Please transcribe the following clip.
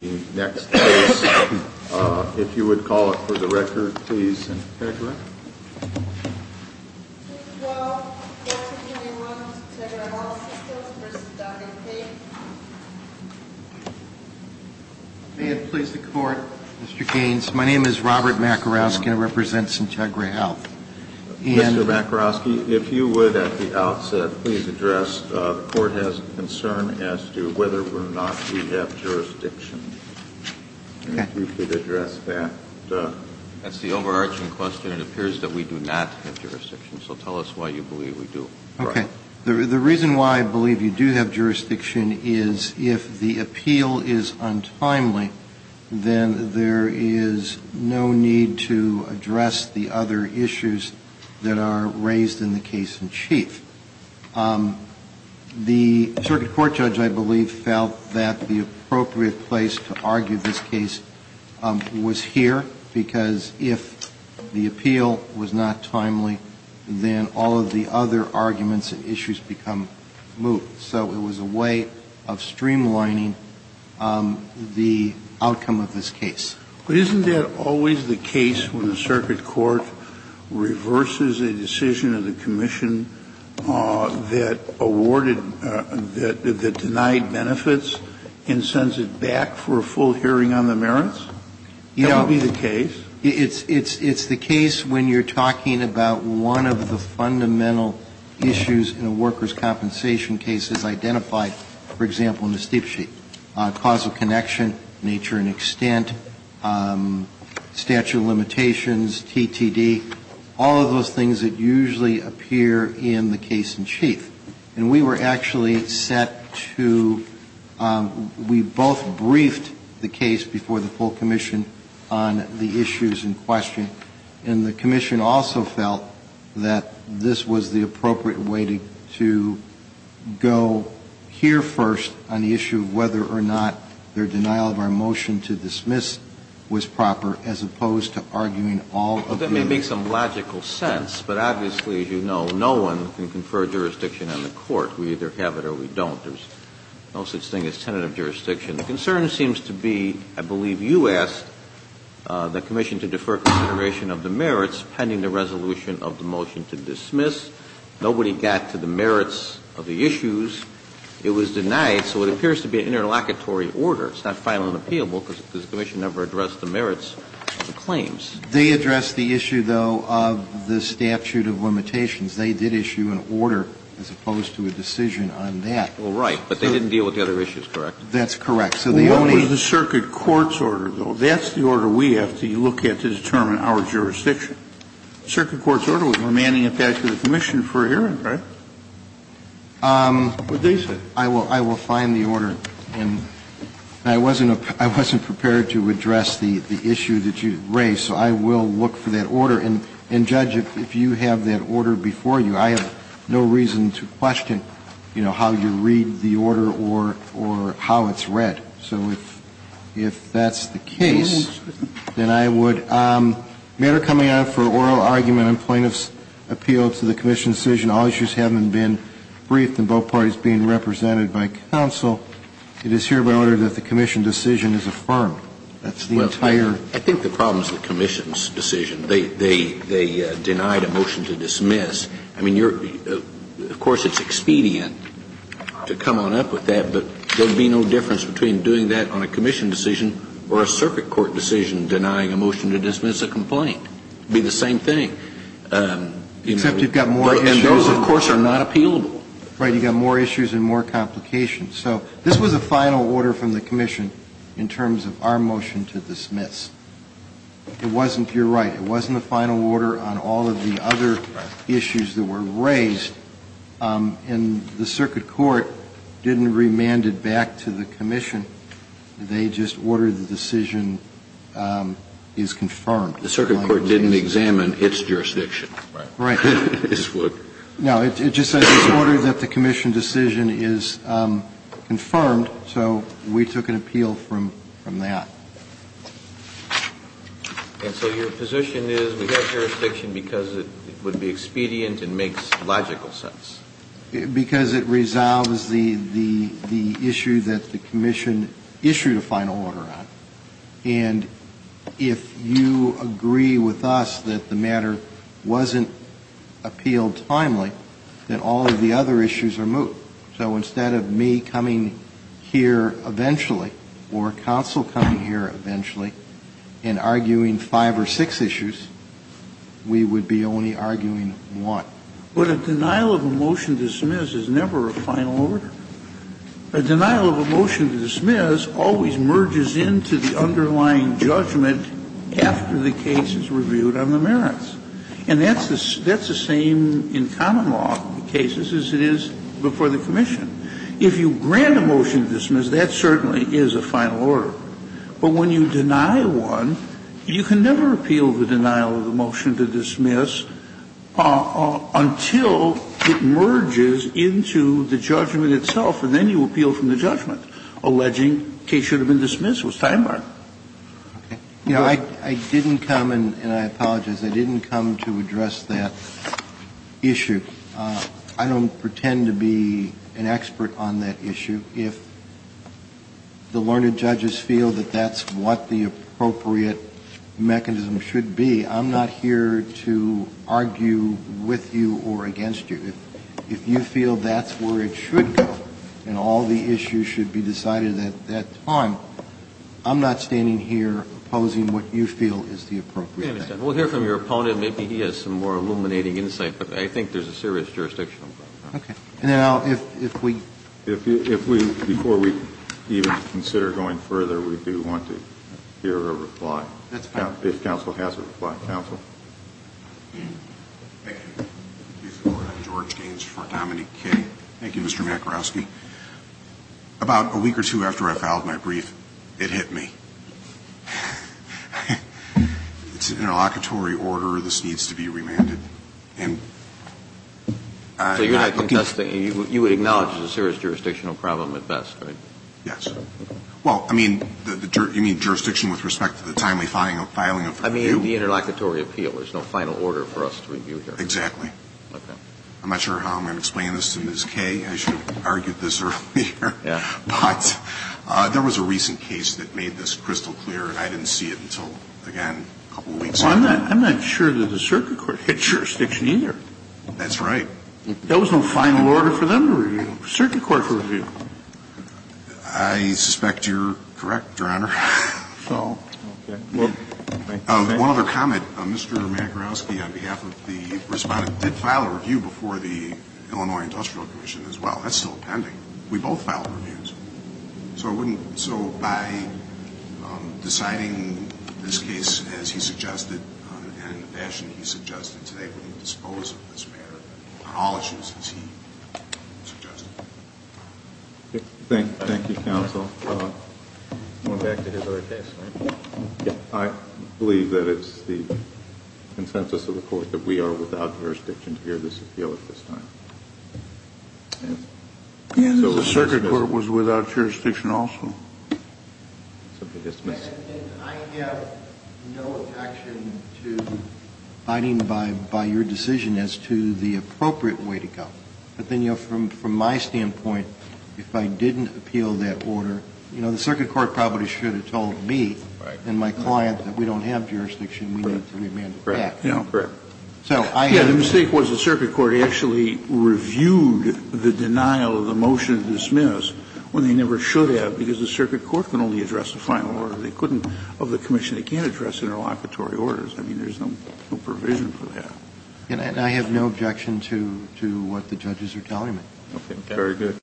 The next case, if you would call it for the record, please, Sintegra. Thank you all. Good afternoon and welcome to Sintegra Health Systems v. Dr. Gaines. May it please the Court, Mr. Gaines, my name is Robert Makarowski and I represent Sintegra Health. Mr. Makarowski, if you would, at the outset, please address, the Court has a concern as to whether or not we have jurisdiction. If you could address that. That's the overarching question. It appears that we do not have jurisdiction, so tell us why you believe we do. Okay. The reason why I believe you do have jurisdiction is if the appeal is untimely, then there is no need to address the other issues that are raised in the case in chief. The circuit court judge, I believe, felt that the appropriate place to argue this case was here, because if the appeal was not timely, then all of the other arguments and issues become moot. So it was a way of streamlining the outcome of this case. But isn't that always the case when the circuit court reverses a decision of the commission that awarded, that denied benefits and sends it back for a full hearing on the merits? Yeah. That would be the case. It's the case when you're talking about one of the fundamental issues in a workers' compensation case is identified, for example, in the steepsheet. Causal connection, nature and extent, statute of limitations, TTD, all of those things that usually appear in the case in chief. And we were actually set to, we both briefed the case before the full commission on the issues in question. And the commission also felt that this was the appropriate way to go here first on the issue of whether or not their denial of our motion to dismiss was proper, as opposed to arguing all of the other. That may make some logical sense, but obviously, as you know, no one can confer jurisdiction on the court. We either have it or we don't. There's no such thing as tentative jurisdiction. The concern seems to be, I believe you asked the commission to defer consideration of the merits pending the resolution of the motion to dismiss. Nobody got to the merits of the issues. It was denied. So it appears to be an interlocutory order. It's not final and appealable because the commission never addressed the merits of the claims. They addressed the issue, though, of the statute of limitations. They did issue an order as opposed to a decision on that. Well, right. But they didn't deal with the other issues, correct? That's correct. What was the circuit court's order, though? That's the order we have to look at to determine our jurisdiction. Circuit court's order was remanding it back to the commission for a hearing, right? What they said. I will find the order. I wasn't prepared to address the issue that you raised, so I will look for that order. And, Judge, if you have that order before you, I have no reason to question, you know, how you read the order or how it's read. So if that's the case, then I would. Matter coming out for oral argument and plaintiff's appeal to the commission's decision, all issues having been briefed and both parties being represented by counsel, it is hereby ordered that the commission decision is affirmed. That's the entire. I think the problem is the commission's decision. They denied a motion to dismiss. I mean, of course, it's expedient to come on up with that, but there would be no difference between doing that on a commission decision or a circuit court decision denying a motion to dismiss a complaint. It would be the same thing. Except you've got more issues. And those, of course, are not appealable. Right. You've got more issues and more complications. So this was a final order from the commission in terms of our motion to dismiss. It wasn't, you're right, it wasn't a final order on all of the other issues that were raised. And the circuit court didn't remand it back to the commission. They just ordered the decision is confirmed. The circuit court didn't examine its jurisdiction. Right. No, it just says it's ordered that the commission decision is confirmed. So we took an appeal from that. And so your position is we have jurisdiction because it would be expedient and makes logical sense. Because it resolves the issue that the commission issued a final order on. And if you agree with us that the matter wasn't appealed timely, then all of the other issues are moved. So instead of me coming here eventually or counsel coming here eventually and arguing five or six issues, we would be only arguing one. But a denial of a motion to dismiss is never a final order. A denial of a motion to dismiss always merges into the underlying judgment after the case is reviewed on the merits. And that's the same in common law cases as it is before the commission. If you grant a motion to dismiss, that certainly is a final order. But when you deny one, you can never appeal the denial of a motion to dismiss until it merges into the judgment itself. And then you appeal from the judgment, alleging the case should have been dismissed. It was time-barred. You know, I didn't come, and I apologize, I didn't come to address that issue. I don't pretend to be an expert on that issue. If the learned judges feel that that's what the appropriate mechanism should be, I'm not here to argue with you or against you. If you feel that's where it should go and all the issues should be decided at that time, I'm not standing here opposing what you feel is the appropriate thing. We'll hear from your opponent. Maybe he has some more illuminating insight. But I think there's a serious jurisdictional problem. Okay. And then I'll, if we. If we, before we even consider going further, we do want to hear a reply. That's fine. If counsel has a reply. Counsel. Thank you. George Gaines for nominee K. Thank you, Mr. Makarowski. Mr. Makarowski, about a week or two after I filed my brief, it hit me. It's an interlocutory order. This needs to be remanded. And I. So you would acknowledge there's a serious jurisdictional problem at best, right? Yes. Well, I mean, you mean jurisdiction with respect to the timely filing of the review? I mean, the interlocutory appeal. There's no final order for us to review here. Exactly. Okay. I'm not sure how I'm going to explain this to Ms. K. I should have argued this earlier. Yeah. But there was a recent case that made this crystal clear, and I didn't see it until, again, a couple of weeks later. Well, I'm not sure that the circuit court hit jurisdiction either. That's right. There was no final order for them to review. Circuit court to review. I suspect you're correct, Your Honor. So. Okay. One other comment. Mr. Makarowski, on behalf of the respondent, did file a review before the Illinois Industrial Commission as well. That's still pending. We both filed reviews. So I wouldn't. So by deciding this case as he suggested and in the fashion he suggested today, would he dispose of this matter on all issues as he suggested? Thank you, counsel. Going back to his other case. I believe that it's the consensus of the court that we are without jurisdiction to hear this appeal at this time. So the circuit court was without jurisdiction also? I have no objection to fighting by your decision as to the appropriate way to go. But then, you know, from my standpoint, if I didn't appeal that order, you know, the circuit court probably should have told me and my client that we don't have jurisdiction. We need to demand it back. Correct. Yeah, the mistake was the circuit court actually reviewed the denial of the motion to dismiss when they never should have, because the circuit court can only address the final order. They couldn't, of the commission, they can't address interlocutory orders. I mean, there's no provision for that. And I have no objection to what the judges are telling me. Okay. Very good.